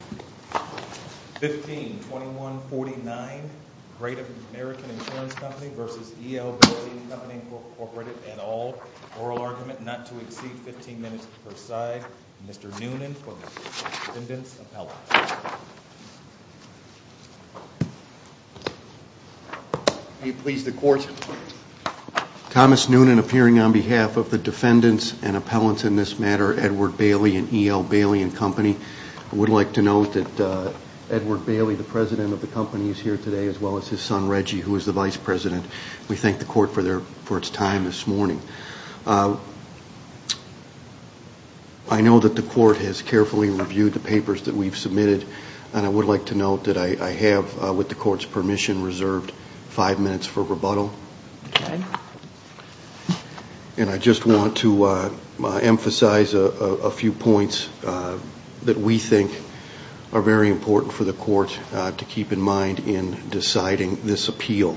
152149 Great American Insurance Company v. EL Bailey Company Inc. et al. Oral argument not to exceed 15 minutes per side. Mr. Noonan for the defendant's appellate. May it please the court. Thomas Noonan appearing on behalf of the defendant's and appellant's in this matter, Edward Bailey and EL Bailey and Company. I would like to note that Edward Bailey, the president of the company, is here today, as well as his son, Reggie, who is the vice president. We thank the court for its time this morning. I know that the court has carefully reviewed the papers that we've submitted, and I would like to note that I have, with the court's permission, reserved five minutes for rebuttal. And I just want to emphasize a few points that we think are very important for the court to keep in mind in deciding this appeal.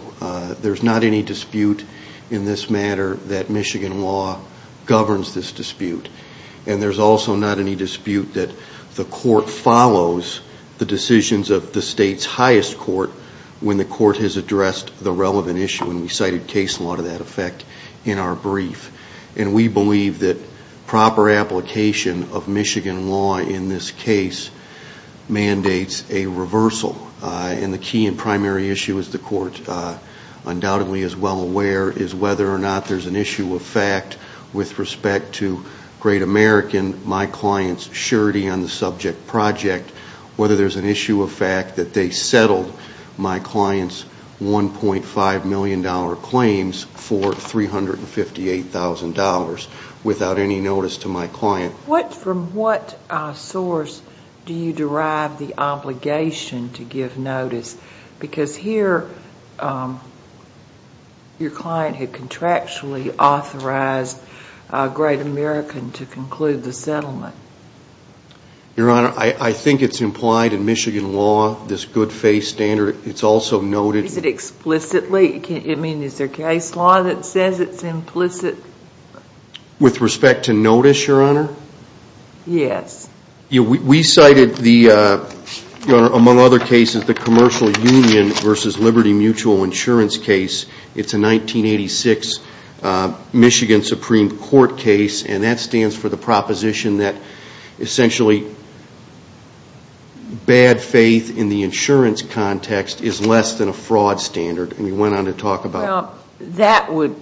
There's not any dispute in this matter that Michigan law governs this dispute, and there's also not any dispute that the court follows the decisions of the state's highest court when the court has addressed the relevant issue, and we cited case law to that effect in our brief. And we believe that proper application of Michigan law in this case mandates a reversal. And the key and primary issue, as the court undoubtedly is well aware, is whether or not there's an issue of fact with respect to Great American, my client's surety on the subject project, whether there's an issue of fact that they settled my client's $1.5 million claims for $358,000 without any notice to my client. From what source do you derive the obligation to give notice? Because here your client had contractually authorized Great American to conclude the settlement. Your Honor, I think it's implied in Michigan law, this good faith standard. It's also noted. Is it explicitly? I mean, is there case law that says it's implicit? With respect to notice, Your Honor? Yes. We cited, among other cases, the commercial union versus Liberty Mutual Insurance case. It's a 1986 Michigan Supreme Court case. And that stands for the proposition that essentially bad faith in the insurance context is less than a fraud standard. And we went on to talk about it. Well, that would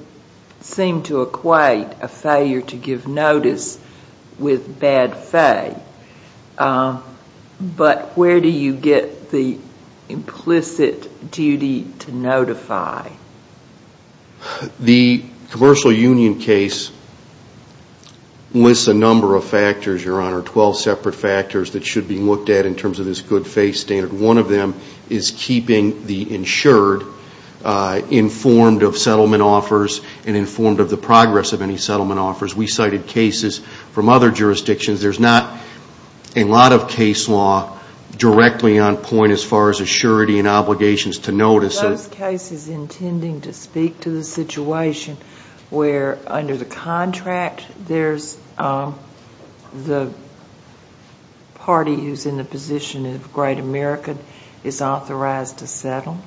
seem to equate a failure to give notice with bad faith. But where do you get the implicit duty to notify? The commercial union case lists a number of factors, Your Honor, 12 separate factors that should be looked at in terms of this good faith standard. One of them is keeping the insured informed of settlement offers and informed of the progress of any settlement offers. We cited cases from other jurisdictions. There's not a lot of case law directly on point as far as assurity and obligations to notice. Are those cases intending to speak to the situation where, under the contract, there's the party who's in the position of Great America is authorized to settle?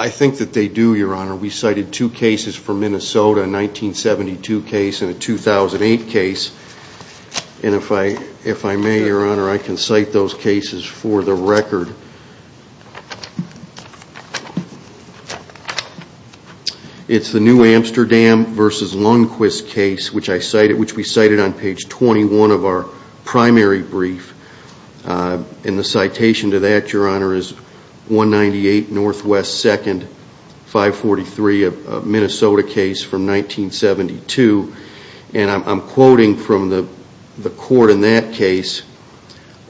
I think that they do, Your Honor. We cited two cases from Minnesota, a 1972 case and a 2008 case. And if I may, Your Honor, I can cite those cases for the record. It's the New Amsterdam versus Lundquist case, which we cited on page 21 of our primary brief. And the citation to that, Your Honor, is 198 Northwest 2nd, 543, a Minnesota case from 1972. And I'm quoting from the court in that case,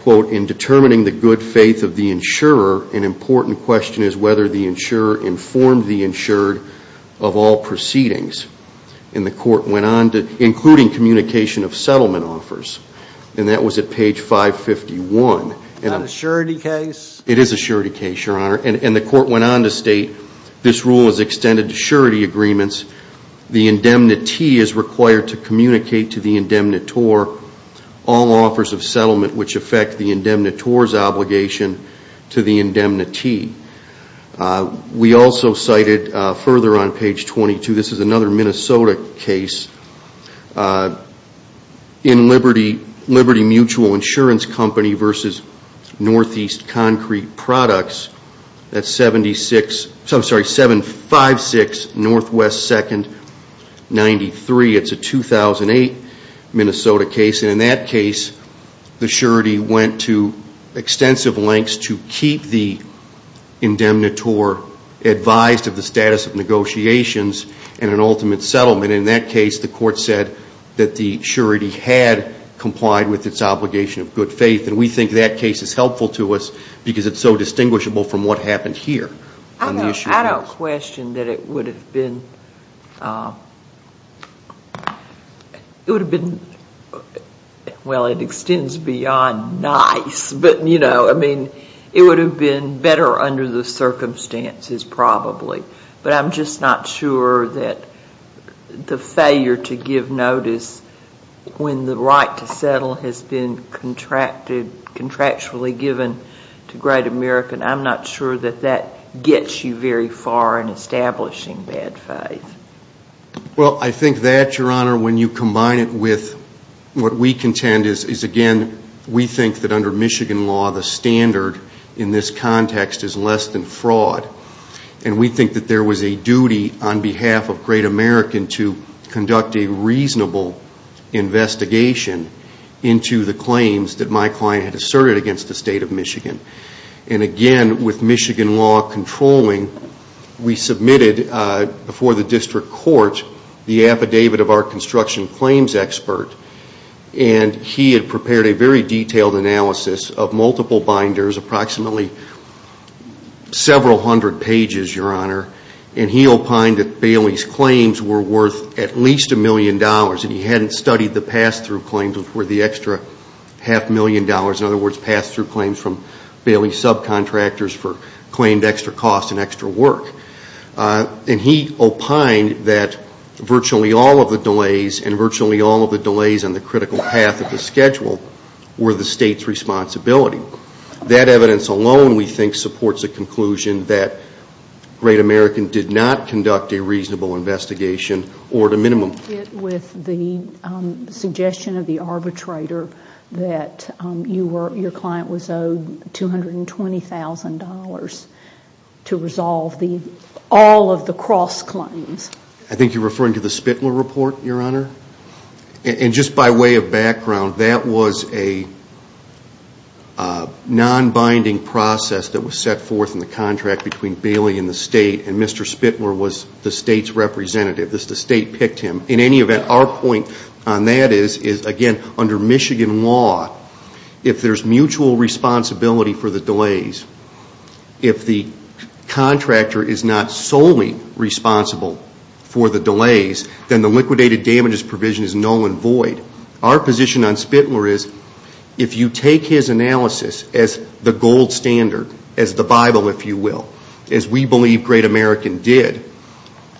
quote, In determining the good faith of the insurer, an important question is whether the insurer informed the insured of all proceedings. And the court went on to, including communication of settlement offers. And that was at page 551. Is that an assurity case? It is an assurity case, Your Honor. And the court went on to state this rule is extended to surety agreements. The indemnity is required to communicate to the indemnitor all offers of settlement which affect the indemnitor's obligation to the indemnity. We also cited, further on page 22, this is another Minnesota case. In Liberty Mutual Insurance Company versus Northeast Concrete Products, that's 756 Northwest 2nd, 93. It's a 2008 Minnesota case. And in that case, the surety went to extensive lengths to keep the indemnitor advised of the status of negotiations and an ultimate settlement. And in that case, the court said that the surety had complied with its obligation of good faith. And we think that case is helpful to us because it's so distinguishable from what happened here. I don't question that it would have been, it would have been, well, it extends beyond nice. But, you know, I mean, it would have been better under the circumstances probably. But I'm just not sure that the failure to give notice when the right to settle has been contractually given to Great American, I'm not sure that that gets you very far in establishing bad faith. Well, I think that, Your Honor, when you combine it with what we contend is, again, we think that under Michigan law the standard in this context is less than fraud. And we think that there was a duty on behalf of Great American to conduct a reasonable investigation into the claims that my client had asserted against the State of Michigan. And, again, with Michigan law controlling, we submitted before the district court the affidavit of our construction claims expert. And he had prepared a very detailed analysis of multiple binders, approximately several hundred pages, Your Honor. And he opined that Bailey's claims were worth at least a million dollars. And he hadn't studied the pass-through claims before the extra half million dollars, in other words, pass-through claims from Bailey's subcontractors for claimed extra cost and extra work. And he opined that virtually all of the delays and virtually all of the delays on the critical path of the schedule were the State's responsibility. That evidence alone, we think, supports a conclusion that Great American did not conduct a reasonable investigation or at a minimum. I don't get with the suggestion of the arbitrator that your client was owed $220,000 to resolve all of the cross-claims. I think you're referring to the Spitler report, Your Honor. And just by way of background, that was a non-binding process that was set forth in the contract between Bailey and the State, and Mr. Spitler was the State's representative. The State picked him. In any event, our point on that is, again, under Michigan law, if there's mutual responsibility for the delays, if the contractor is not solely responsible for the delays, then the liquidated damages provision is null and void. Our position on Spitler is if you take his analysis as the gold standard, as the Bible, if you will, as we believe Great American did,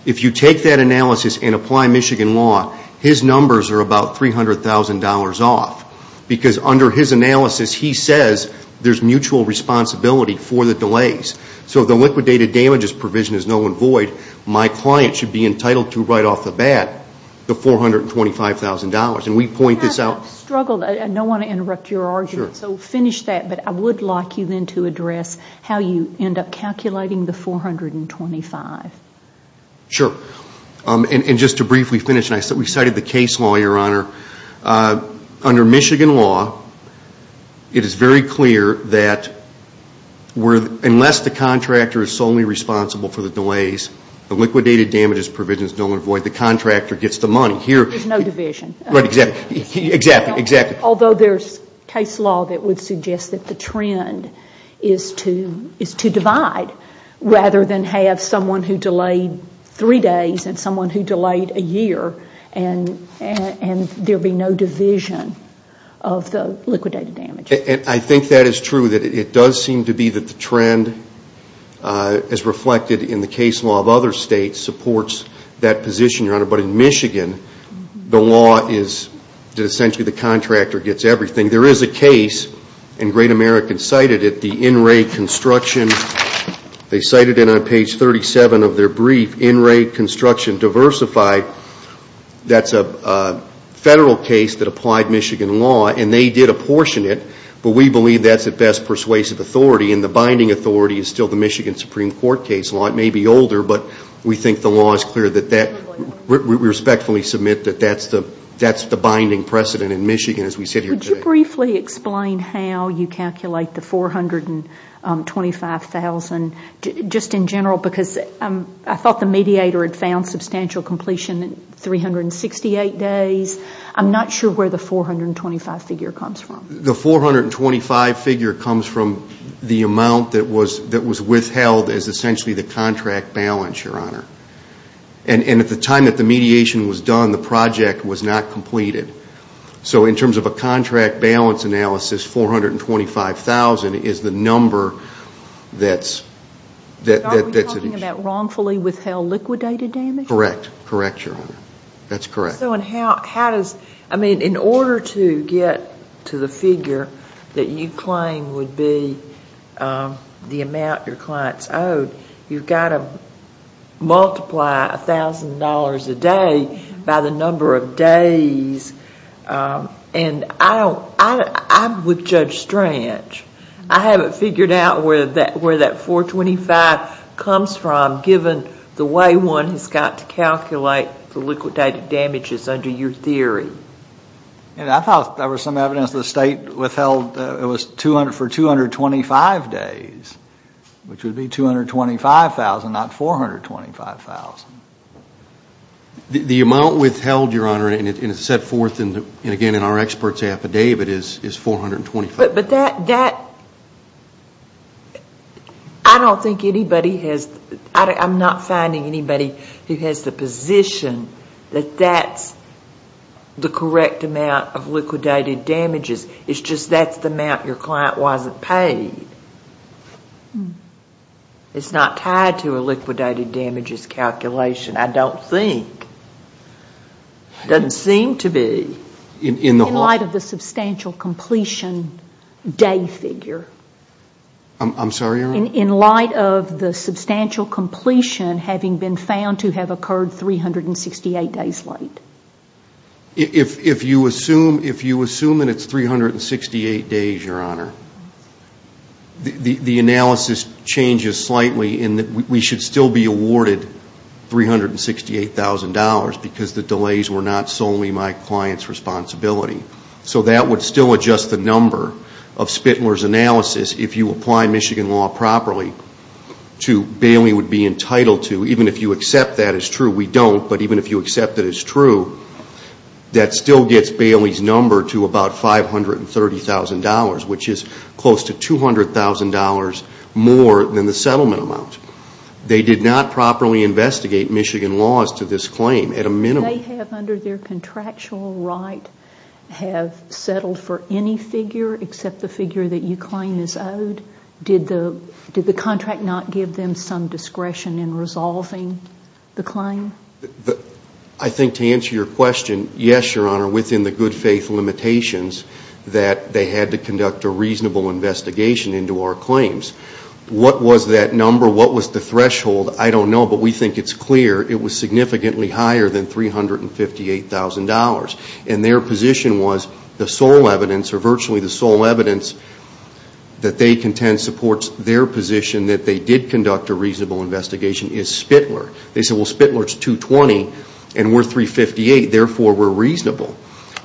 if you take that analysis and apply Michigan law, his numbers are about $300,000 off. Because under his analysis, he says there's mutual responsibility for the delays. So if the liquidated damages provision is null and void, my client should be entitled to, right off the bat, the $425,000. And we point this out. I don't want to interrupt your argument, so finish that. But I would like you then to address how you end up calculating the $425,000. Sure. And just to briefly finish, we cited the case law, Your Honor. Under Michigan law, it is very clear that unless the contractor is solely responsible for the delays, the liquidated damages provision is null and void. The contractor gets the money. There's no division. Right, exactly. Exactly, exactly. Although there's case law that would suggest that the trend is to divide, rather than have someone who delayed three days and someone who delayed a year, and there be no division of the liquidated damages. And I think that is true, that it does seem to be that the trend, as reflected in the case law of other states, supports that position, Your Honor. But in Michigan, the law is that essentially the contractor gets everything. There is a case, and Great American cited it, the in-rate construction. They cited it on page 37 of their brief, in-rate construction diversified. That's a federal case that applied Michigan law, and they did apportion it. But we believe that's at best persuasive authority, and the binding authority is still the Michigan Supreme Court case law. It may be older, but we think the law is clear. We respectfully submit that that's the binding precedent in Michigan, as we sit here today. Could you briefly explain how you calculate the $425,000 just in general? Because I thought the mediator had found substantial completion in 368 days. I'm not sure where the $425,000 figure comes from. The $425,000 figure comes from the amount that was withheld as essentially the contract balance, Your Honor. And at the time that the mediation was done, the project was not completed. So in terms of a contract balance analysis, $425,000 is the number that's at issue. Are we talking about wrongfully withheld liquidated damage? Correct. Correct, Your Honor. That's correct. I mean, in order to get to the figure that you claim would be the amount your clients owed, you've got to multiply $1,000 a day by the number of days. And I would judge strange. I haven't figured out where that $425,000 comes from, given the way one has got to calculate the liquidated damages under your theory. And I thought there was some evidence the state withheld it was for 225 days, which would be $225,000, not $425,000. The amount withheld, Your Honor, and it's set forth, again, in our expert's affidavit, is $425,000. But that, I don't think anybody has, I'm not finding anybody who has the position that that's the correct amount of liquidated damages. It's just that's the amount your client wasn't paid. It's not tied to a liquidated damages calculation, I don't think. It doesn't seem to be. In light of the substantial completion day figure. I'm sorry, Your Honor? In light of the substantial completion having been found to have occurred 368 days late. If you assume that it's 368 days, Your Honor, the analysis changes slightly in that we should still be awarded $368,000 because the delays were not solely my client's responsibility. So that would still adjust the number of Spitler's analysis if you apply Michigan law properly to Bailey would be entitled to, even if you accept that as true. We don't, but even if you accept that as true, that still gets Bailey's number to about $530,000, which is close to $200,000 more than the settlement amount. They did not properly investigate Michigan laws to this claim at a minimum. They have, under their contractual right, have settled for any figure except the figure that you claim is owed. Did the contract not give them some discretion in resolving the claim? I think to answer your question, yes, Your Honor, within the good faith limitations that they had to conduct a reasonable investigation into our claims. What was that number? What was the threshold? I don't know, but we think it's clear it was significantly higher than $358,000. And their position was the sole evidence, or virtually the sole evidence that they contend supports their position that they did conduct a reasonable investigation is Spitler. They said, well, Spitler's 220 and we're 358, therefore we're reasonable.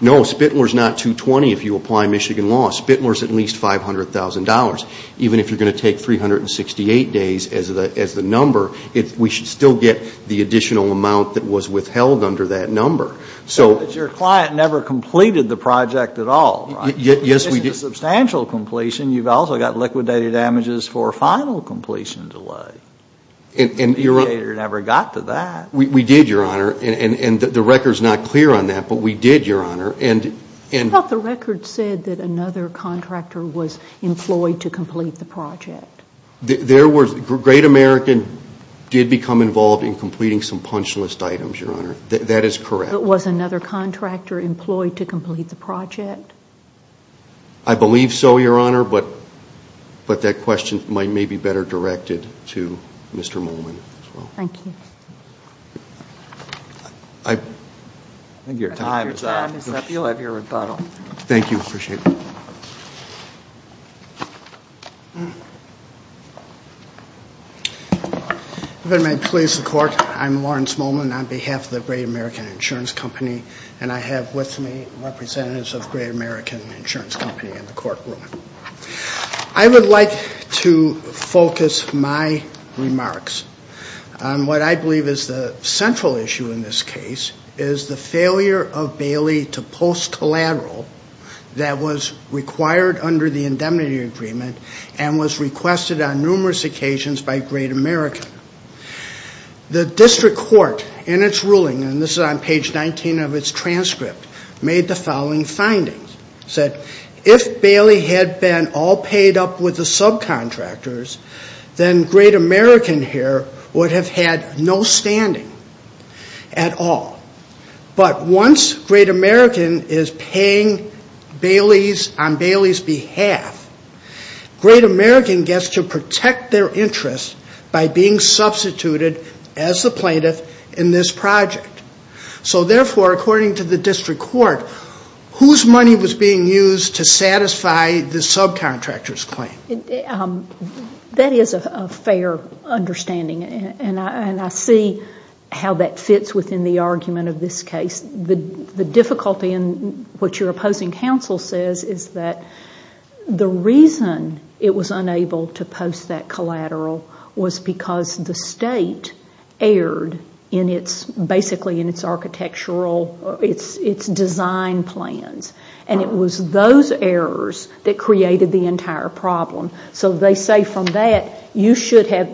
No, Spitler's not 220 if you apply Michigan law. Spitler's at least $500,000. Even if you're going to take 368 days as the number, we should still get the additional amount that was withheld under that number. But your client never completed the project at all, right? Yes, we did. This is a substantial completion. You've also got liquidated damages for a final completion delay. The mediator never got to that. We did, Your Honor. And the record's not clear on that, but we did, Your Honor. But the record said that another contractor was employed to complete the project. Great American did become involved in completing some punch list items, Your Honor. That is correct. But was another contractor employed to complete the project? I believe so, Your Honor. But that question may be better directed to Mr. Mullen as well. Thank you. I think your time is up. Your time is up. You'll have your rebuttal. Thank you. I appreciate it. If it may please the Court, I'm Lawrence Mullen on behalf of the Great American Insurance Company, and I have with me representatives of Great American Insurance Company in the courtroom. I would like to focus my remarks on what I believe is the central issue in this case, is the failure of Bailey to post collateral that was required under the indemnity agreement and was requested on numerous occasions by Great American. The district court in its ruling, and this is on page 19 of its transcript, made the following findings. It said, if Bailey had been all paid up with the subcontractors, then Great American here would have had no standing at all. But once Great American is paying on Bailey's behalf, Great American gets to protect their interest by being substituted as the plaintiff in this project. So therefore, according to the district court, whose money was being used to satisfy the subcontractor's claim? That is a fair understanding, and I see how that fits within the argument of this case. The difficulty in what your opposing counsel says is that the reason it was unable to post that collateral was because the state erred basically in its architectural, its design plans. And it was those errors that created the entire problem. So they say from that, you should have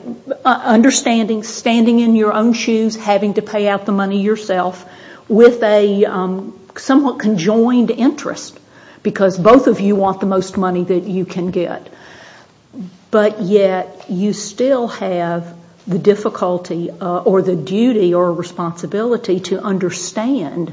understanding, standing in your own shoes, having to pay out the money yourself with a somewhat conjoined interest because both of you want the most money that you can get. But yet you still have the difficulty or the duty or responsibility to understand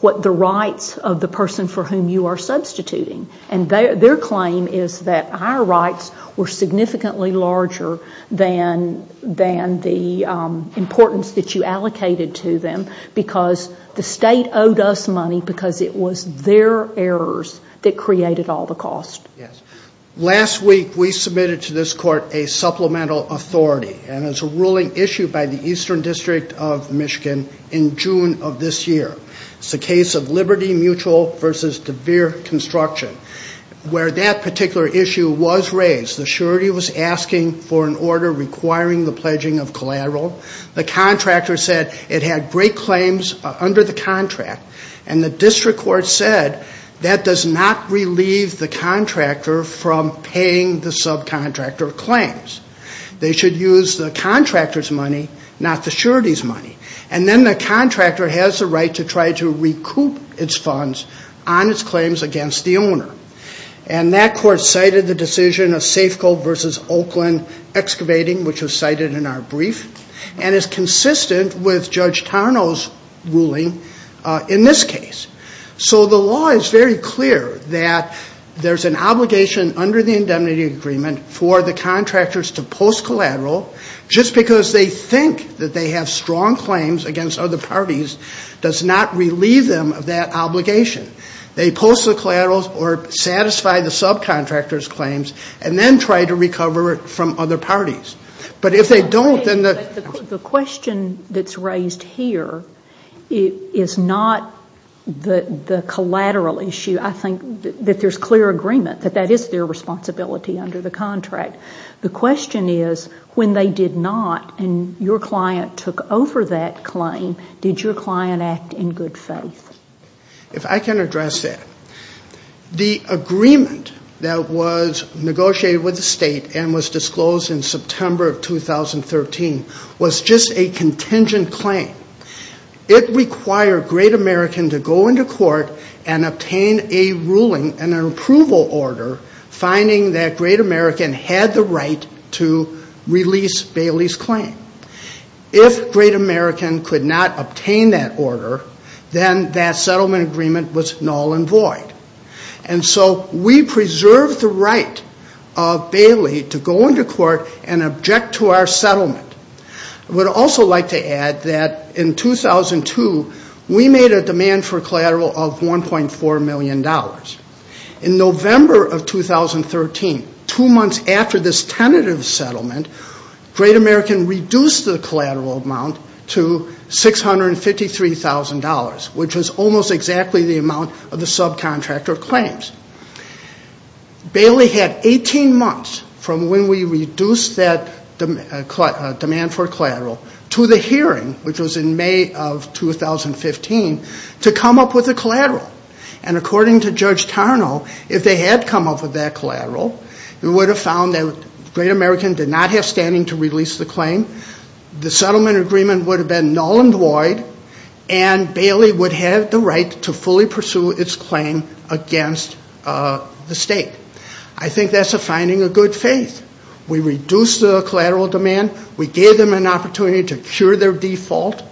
what the rights of the person for whom you are substituting. And their claim is that our rights were significantly larger than the importance that you allocated to them because the state owed us money because it was their errors that created all the cost. Yes. Last week, we submitted to this court a supplemental authority, and it's a ruling issued by the Eastern District of Michigan in June of this year. It's the case of Liberty Mutual v. DeVere Construction, where that particular issue was raised. The surety was asking for an order requiring the pledging of collateral. The contractor said it had great claims under the contract, and the district court said that does not relieve the contractor from paying the subcontractor claims. They should use the contractor's money, not the surety's money. And then the contractor has the right to try to recoup its funds on its claims against the owner. And that court cited the decision of Safeco versus Oakland Excavating, which was cited in our brief, and is consistent with Judge Tarnow's ruling in this case. So the law is very clear that there's an obligation under the indemnity agreement for the contractors to post collateral just because they think that they have strong claims against other parties does not relieve them of that obligation. They post the collaterals or satisfy the subcontractor's claims and then try to recover it from other parties. But if they don't, then the... The question that's raised here is not the collateral issue. I think that there's clear agreement that that is their responsibility under the contract. The question is when they did not and your client took over that claim, did your client act in good faith? If I can address that. The agreement that was negotiated with the state and was disclosed in September of 2013 was just a contingent claim. It required Great American to go into court and obtain a ruling and an approval order finding that Great American had the right to release Bailey's claim. If Great American could not obtain that order, then that settlement agreement was null and void. And so we preserved the right of Bailey to go into court and object to our settlement. I would also like to add that in 2002, we made a demand for collateral of $1.4 million. In November of 2013, two months after this tentative settlement, Great American reduced the collateral amount to $653,000, which was almost exactly the amount of the subcontractor claims. Bailey had 18 months from when we reduced that demand for collateral to the hearing, which was in May of 2015, to come up with a collateral. And according to Judge Tarnow, if they had come up with that collateral, we would have found that Great American did not have standing to release the claim, the settlement agreement would have been null and void, and Bailey would have the right to fully pursue its claim against the state. I think that's a finding of good faith. We reduced the collateral demand. We gave them an opportunity to cure their default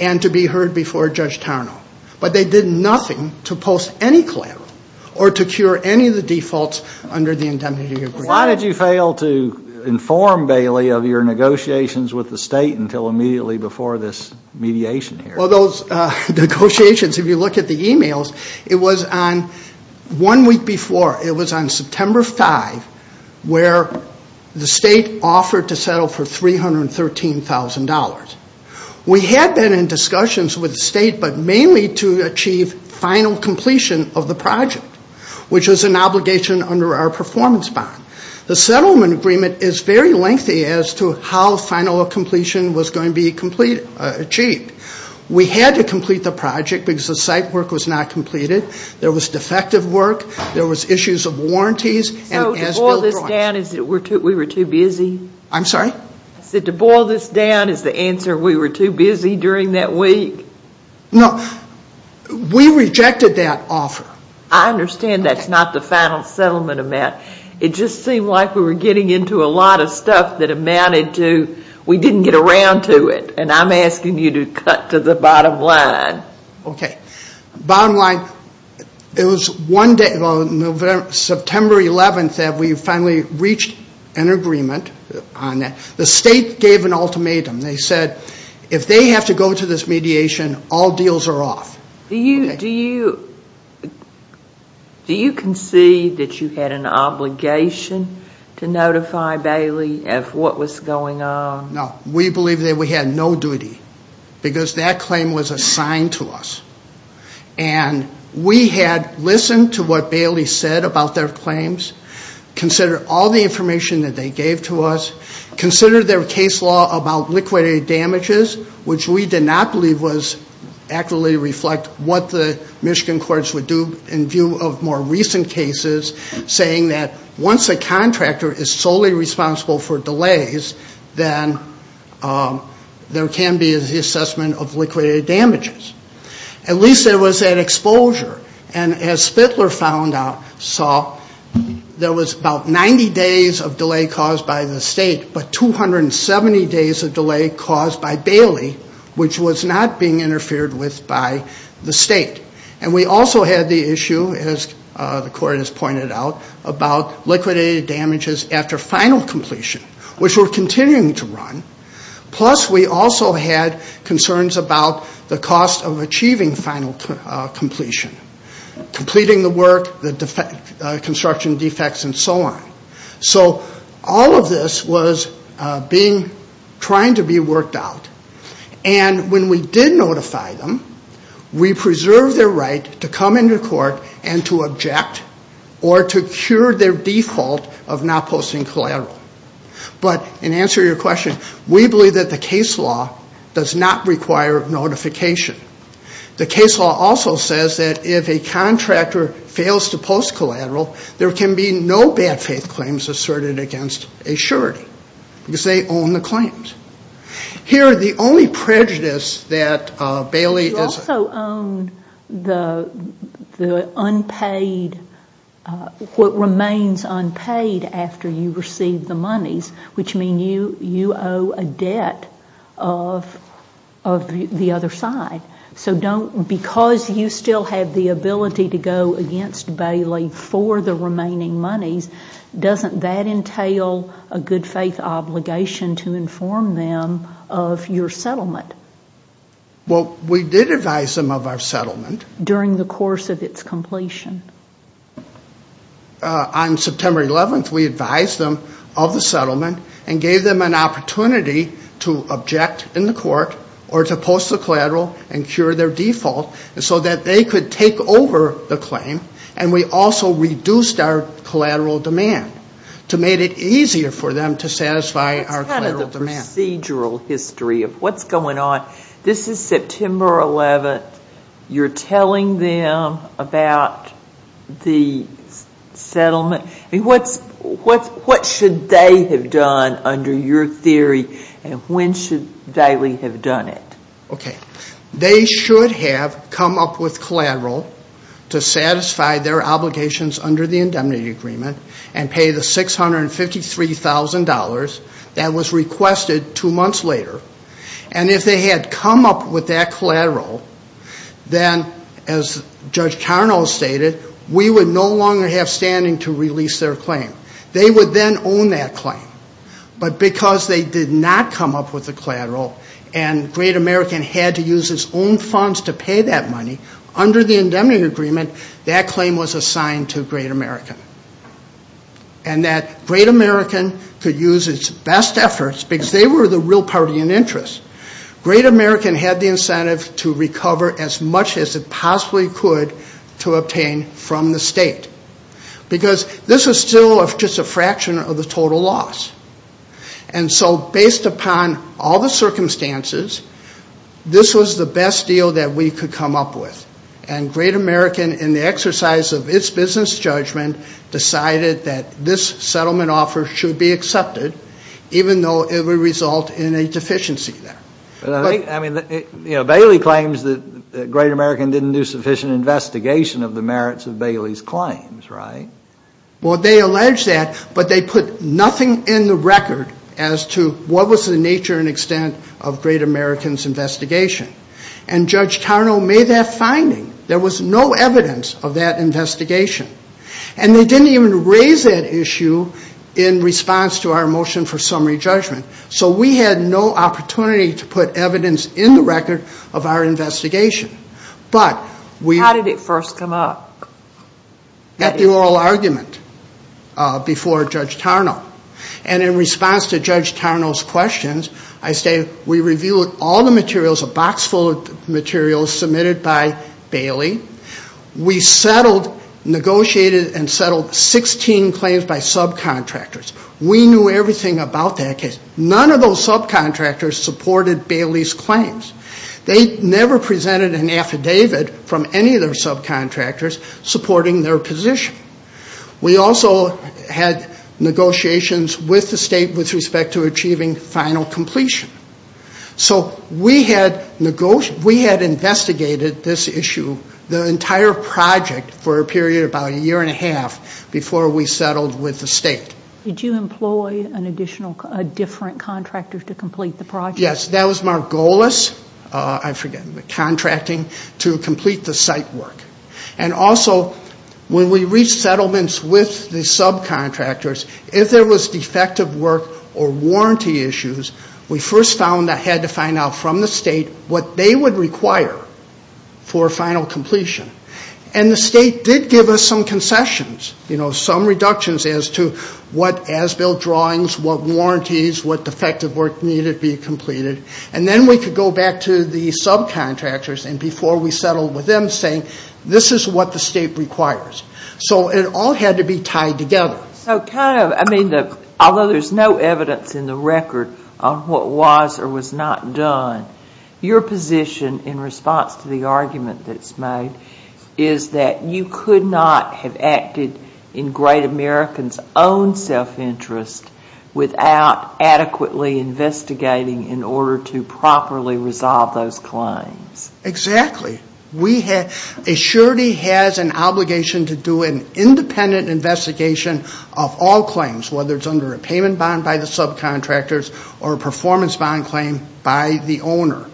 and to be heard before Judge Tarnow. But they did nothing to post any collateral or to cure any of the defaults under the indemnity agreement. Why did you fail to inform Bailey of your negotiations with the state until immediately before this mediation hearing? Well, those negotiations, if you look at the e-mails, it was on one week before. It was on September 5 where the state offered to settle for $313,000. We had been in discussions with the state, but mainly to achieve final completion of the project, which was an obligation under our performance bond. The settlement agreement is very lengthy as to how final completion was going to be achieved. We had to complete the project because the site work was not completed. There was defective work. There was issues of warranties. So to boil this down, is it we were too busy? I'm sorry? I said to boil this down, is the answer we were too busy during that week? No. We rejected that offer. I understand that's not the final settlement amount. It just seemed like we were getting into a lot of stuff that amounted to we didn't get around to it. And I'm asking you to cut to the bottom line. Okay. Bottom line, it was one day, September 11, that we finally reached an agreement on that. The state gave an ultimatum. They said if they have to go to this mediation, all deals are off. Do you concede that you had an obligation to notify Bailey of what was going on? No. We believe that we had no duty because that claim was assigned to us. And we had listened to what Bailey said about their claims, considered all the information that they gave to us, considered their case law about liquidated damages, which we did not believe was accurately reflect what the Michigan courts would do in view of more recent cases saying that once a contractor is solely responsible for delays, then there can be the assessment of liquidated damages. At least there was that exposure. And as Spittler saw, there was about 90 days of delay caused by the state, but 270 days of delay caused by Bailey, which was not being interfered with by the state. And we also had the issue, as the court has pointed out, about liquidated damages after final completion, which we're continuing to run. Plus we also had concerns about the cost of achieving final completion, completing the work, the construction defects, and so on. So all of this was trying to be worked out. And when we did notify them, we preserved their right to come into court and to object or to cure their default of not posting collateral. But in answer to your question, we believe that the case law does not require notification. The case law also says that if a contractor fails to post collateral, there can be no bad faith claims asserted against a surety because they own the claims. Here, the only prejudice that Bailey is- You also own the unpaid, what remains unpaid after you receive the monies, which means you owe a debt of the other side. So because you still have the ability to go against Bailey for the remaining monies, doesn't that entail a good faith obligation to inform them of your settlement? Well, we did advise them of our settlement. During the course of its completion. On September 11th, we advised them of the settlement and gave them an opportunity to object in the court or to post the collateral and cure their default so that they could take over the claim. And we also reduced our collateral demand to make it easier for them to satisfy our collateral demand. That's kind of the procedural history of what's going on. This is September 11th. You're telling them about the settlement. What should they have done under your theory and when should Bailey have done it? Okay. They should have come up with collateral to satisfy their obligations under the indemnity agreement and pay the $653,000 that was requested two months later. And if they had come up with that collateral, then, as Judge Carno stated, we would no longer have standing to release their claim. They would then own that claim. But because they did not come up with the collateral and Great American had to use its own funds to pay that money, under the indemnity agreement, that claim was assigned to Great American. And that Great American could use its best efforts because they were the real party in interest. Great American had the incentive to recover as much as it possibly could to obtain from the state. Because this was still just a fraction of the total loss. And so based upon all the circumstances, this was the best deal that we could come up with. And Great American, in the exercise of its business judgment, decided that this settlement offer should be accepted even though it would result in a deficiency there. I mean, Bailey claims that Great American didn't do sufficient investigation of the merits of Bailey's claims, right? Well, they allege that, but they put nothing in the record as to what was the nature and extent of Great American's investigation. And Judge Carno made that finding. There was no evidence of that investigation. And they didn't even raise that issue in response to our motion for summary judgment. So we had no opportunity to put evidence in the record of our investigation. But we... How did it first come up? At the oral argument before Judge Carno. And in response to Judge Carno's questions, I say we reviewed all the materials, a box full of materials submitted by Bailey. We settled, negotiated and settled 16 claims by subcontractors. We knew everything about that case. None of those subcontractors supported Bailey's claims. They never presented an affidavit from any of their subcontractors supporting their position. We also had negotiations with the state with respect to achieving final completion. So we had negotiated... We had investigated this issue, the entire project, for a period of about a year and a half before we settled with the state. Did you employ a different contractor to complete the project? Yes. That was Margolis. I forget. Contracting to complete the site work. And also, when we reached settlements with the subcontractors, if there was defective work or warranty issues, we first found I had to find out from the state what they would require for final completion. And the state did give us some concessions, you know, some reductions as to what as-built drawings, what warranties, what defective work needed to be completed. And then we could go back to the subcontractors, and before we settled with them, saying this is what the state requires. So it all had to be tied together. So kind of, I mean, although there's no evidence in the record on what was or was not done, your position in response to the argument that's made is that you could not have acted in Great American's own self-interest without adequately investigating in order to properly resolve those claims. Exactly. A surety has an obligation to do an independent investigation of all claims, whether it's under a payment bond by the subcontractors or a performance bond claim by the owner.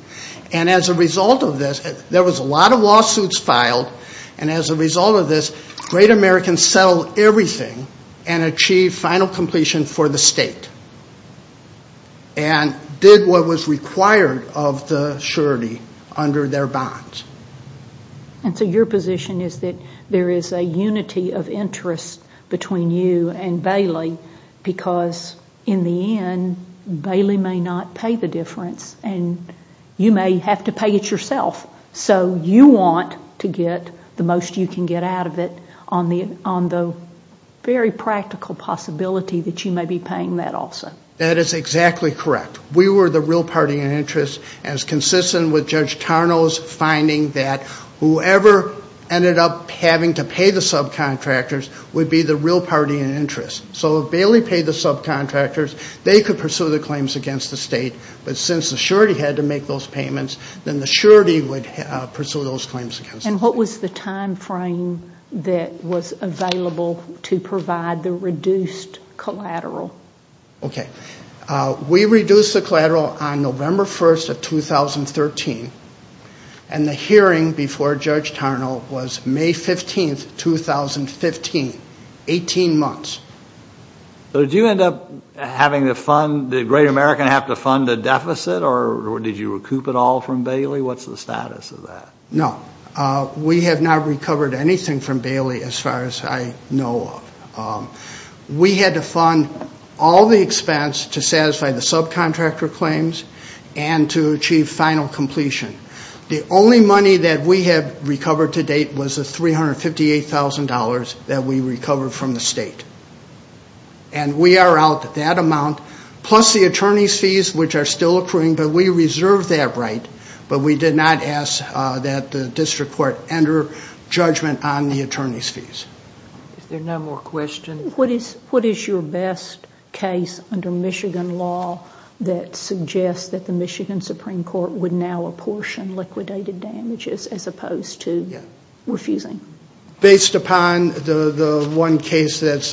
And as a result of this, there was a lot of lawsuits filed, and as a result of this, Great American settled everything and achieved final completion for the state and did what was required of the surety under their bonds. And so your position is that there is a unity of interest between you and Bailey because, in the end, Bailey may not pay the difference, and you may have to pay it yourself. So you want to get the most you can get out of it on the very practical possibility that you may be paying that also. That is exactly correct. We were the real party in interest, as consistent with Judge Tarnow's finding that whoever ended up having to pay the subcontractors would be the real party in interest. So if Bailey paid the subcontractors, they could pursue the claims against the state, but since the surety had to make those payments, then the surety would pursue those claims against the state. And what was the timeframe that was available to provide the reduced collateral? Okay. We reduced the collateral on November 1st of 2013, and the hearing before Judge Tarnow was May 15th, 2015, 18 months. So did you end up having the Great American have to fund a deficit, or did you recoup it all from Bailey? What's the status of that? No. We have not recovered anything from Bailey as far as I know of. We had to fund all the expense to satisfy the subcontractor claims and to achieve final completion. The only money that we have recovered to date was the $358,000 that we recovered from the state. And we are out that amount, plus the attorney's fees, which are still accruing, but we reserved that right. But we did not ask that the district court enter judgment on the attorney's fees. Is there no more questions? What is your best case under Michigan law that suggests that the Michigan Supreme Court would now apportion liquidated damages as opposed to refusing? Based upon the one case that's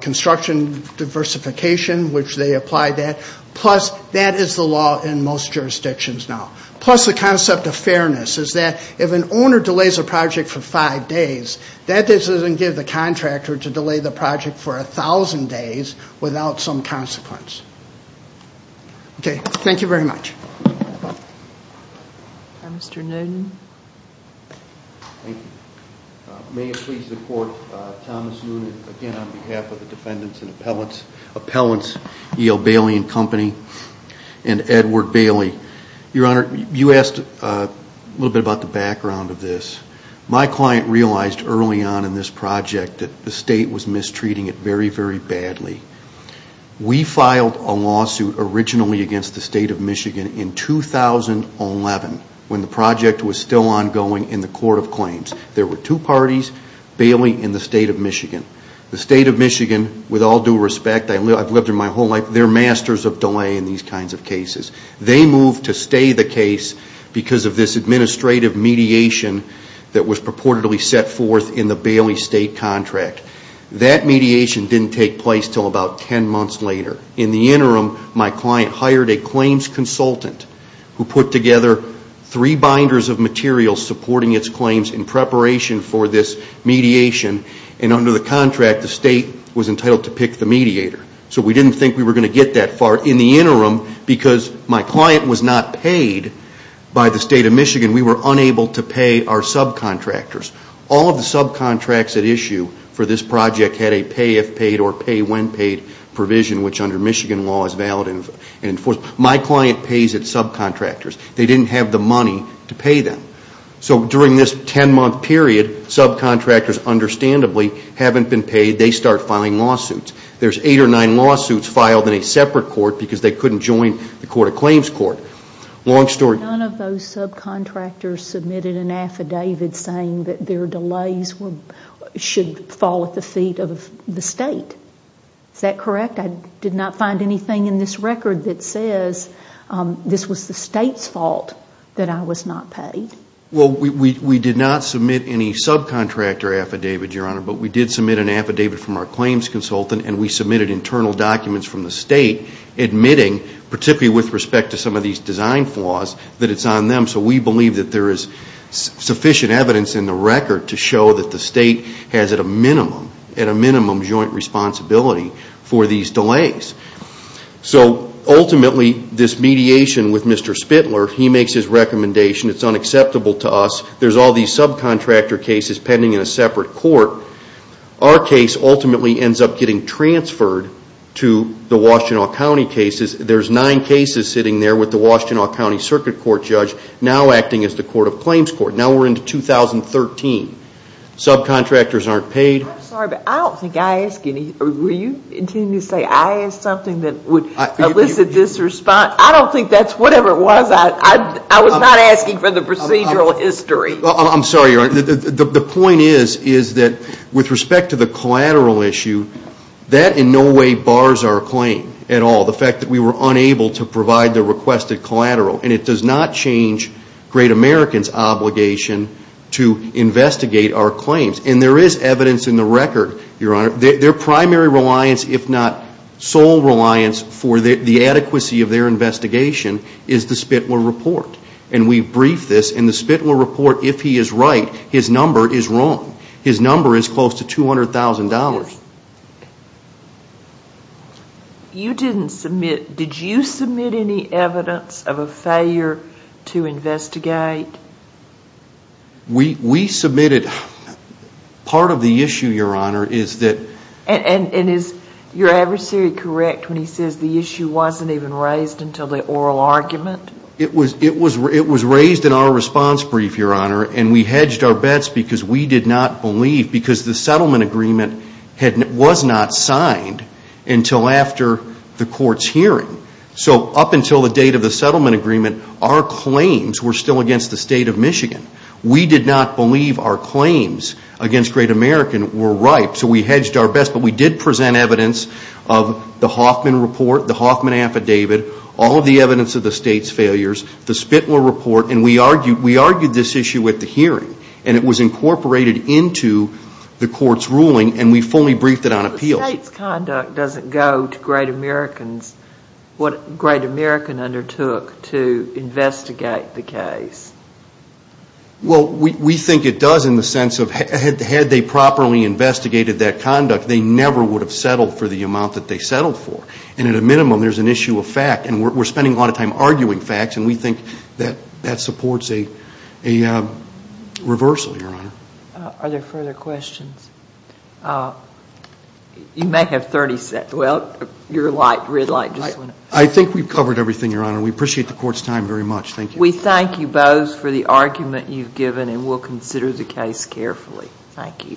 construction diversification, which they applied that, plus that is the law in most jurisdictions now. Plus the concept of fairness is that if an owner delays a project for five days, that doesn't give the contractor to delay the project for 1,000 days without some consequence. Okay. Thank you very much. Mr. Noonan. Thank you. May it please the Court, Thomas Noonan again on behalf of the defendants and appellants, appellants E.O. Bailey and Company and Edward Bailey. Your Honor, you asked a little bit about the background of this. My client realized early on in this project that the State was mistreating it very, very badly. We filed a lawsuit originally against the State of Michigan in 2011 when the project was still ongoing in the Court of Claims. There were two parties, Bailey and the State of Michigan. The State of Michigan, with all due respect, I've lived there my whole life, they're masters of delay in these kinds of cases. They moved to stay the case because of this administrative mediation that was purportedly set forth in the Bailey State contract. That mediation didn't take place until about 10 months later. In the interim, my client hired a claims consultant who put together three binders of material supporting its claims in preparation for this mediation. And under the contract, the State was entitled to pick the mediator. So we didn't think we were going to get that far in the interim because my client was not paid by the State of Michigan. We were unable to pay our subcontractors. All of the subcontracts at issue for this project had a pay if paid or pay when paid provision, which under Michigan law is valid and enforced. My client pays its subcontractors. They didn't have the money to pay them. So during this 10-month period, subcontractors understandably haven't been paid. They start filing lawsuits. There's eight or nine lawsuits filed in a separate court because they couldn't join the Court of Claims court. Long story. None of those subcontractors submitted an affidavit saying that their delays should fall at the feet of the State. Is that correct? I did not find anything in this record that says this was the State's fault that I was not paid. Well, we did not submit any subcontractor affidavit, Your Honor, but we did submit an affidavit from our claims consultant, and we submitted internal documents from the State admitting, particularly with respect to some of these design flaws, that it's on them. So we believe that there is sufficient evidence in the record to show that the State has at a minimum, at a minimum joint responsibility for these delays. So ultimately, this mediation with Mr. Spitler, he makes his recommendation. It's unacceptable to us. There's all these subcontractor cases pending in a separate court. Our case ultimately ends up getting transferred to the Washtenaw County cases. There's nine cases sitting there with the Washtenaw County Circuit Court judge now acting as the Court of Claims court. Now we're into 2013. Subcontractors aren't paid. I'm sorry, but I don't think I asked any. Will you continue to say I asked something that would elicit this response? I don't think that's whatever it was. I was not asking for the procedural history. I'm sorry, Your Honor. The point is, is that with respect to the collateral issue, that in no way bars our claim at all, the fact that we were unable to provide the requested collateral. And it does not change great Americans' obligation to investigate our claims. And there is evidence in the record, Your Honor, their primary reliance, if not sole reliance for the adequacy of their investigation is the Spitler Report. And we briefed this, and the Spitler Report, if he is right, his number is wrong. His number is close to $200,000. You didn't submit, did you submit any evidence of a failure to investigate? We submitted, part of the issue, Your Honor, is that. And is your adversary correct when he says the issue wasn't even raised until the oral argument? It was raised in our response brief, Your Honor. And we hedged our bets because we did not believe, because the settlement agreement was not signed until after the court's hearing. So up until the date of the settlement agreement, our claims were still against the State of Michigan. We did not believe our claims against Great American were ripe. So we hedged our bets. But we did present evidence of the Hoffman Report, the Hoffman Affidavit, all of the evidence of the State's failures, the Spitler Report. And we argued this issue at the hearing. And it was incorporated into the court's ruling. And we fully briefed it on appeal. But the State's conduct doesn't go to great Americans, what Great American undertook to investigate the case. Well, we think it does in the sense of had they properly investigated that conduct, they never would have settled for the amount that they settled for. And at a minimum, there's an issue of fact. And we're spending a lot of time arguing facts. And we think that that supports a reversal, Your Honor. Are there further questions? You may have 30 seconds. Well, your red light just went off. I think we've covered everything, Your Honor. We appreciate the court's time very much. Thank you. We thank you both for the argument you've given, and we'll consider the case carefully. Thank you. Thank you.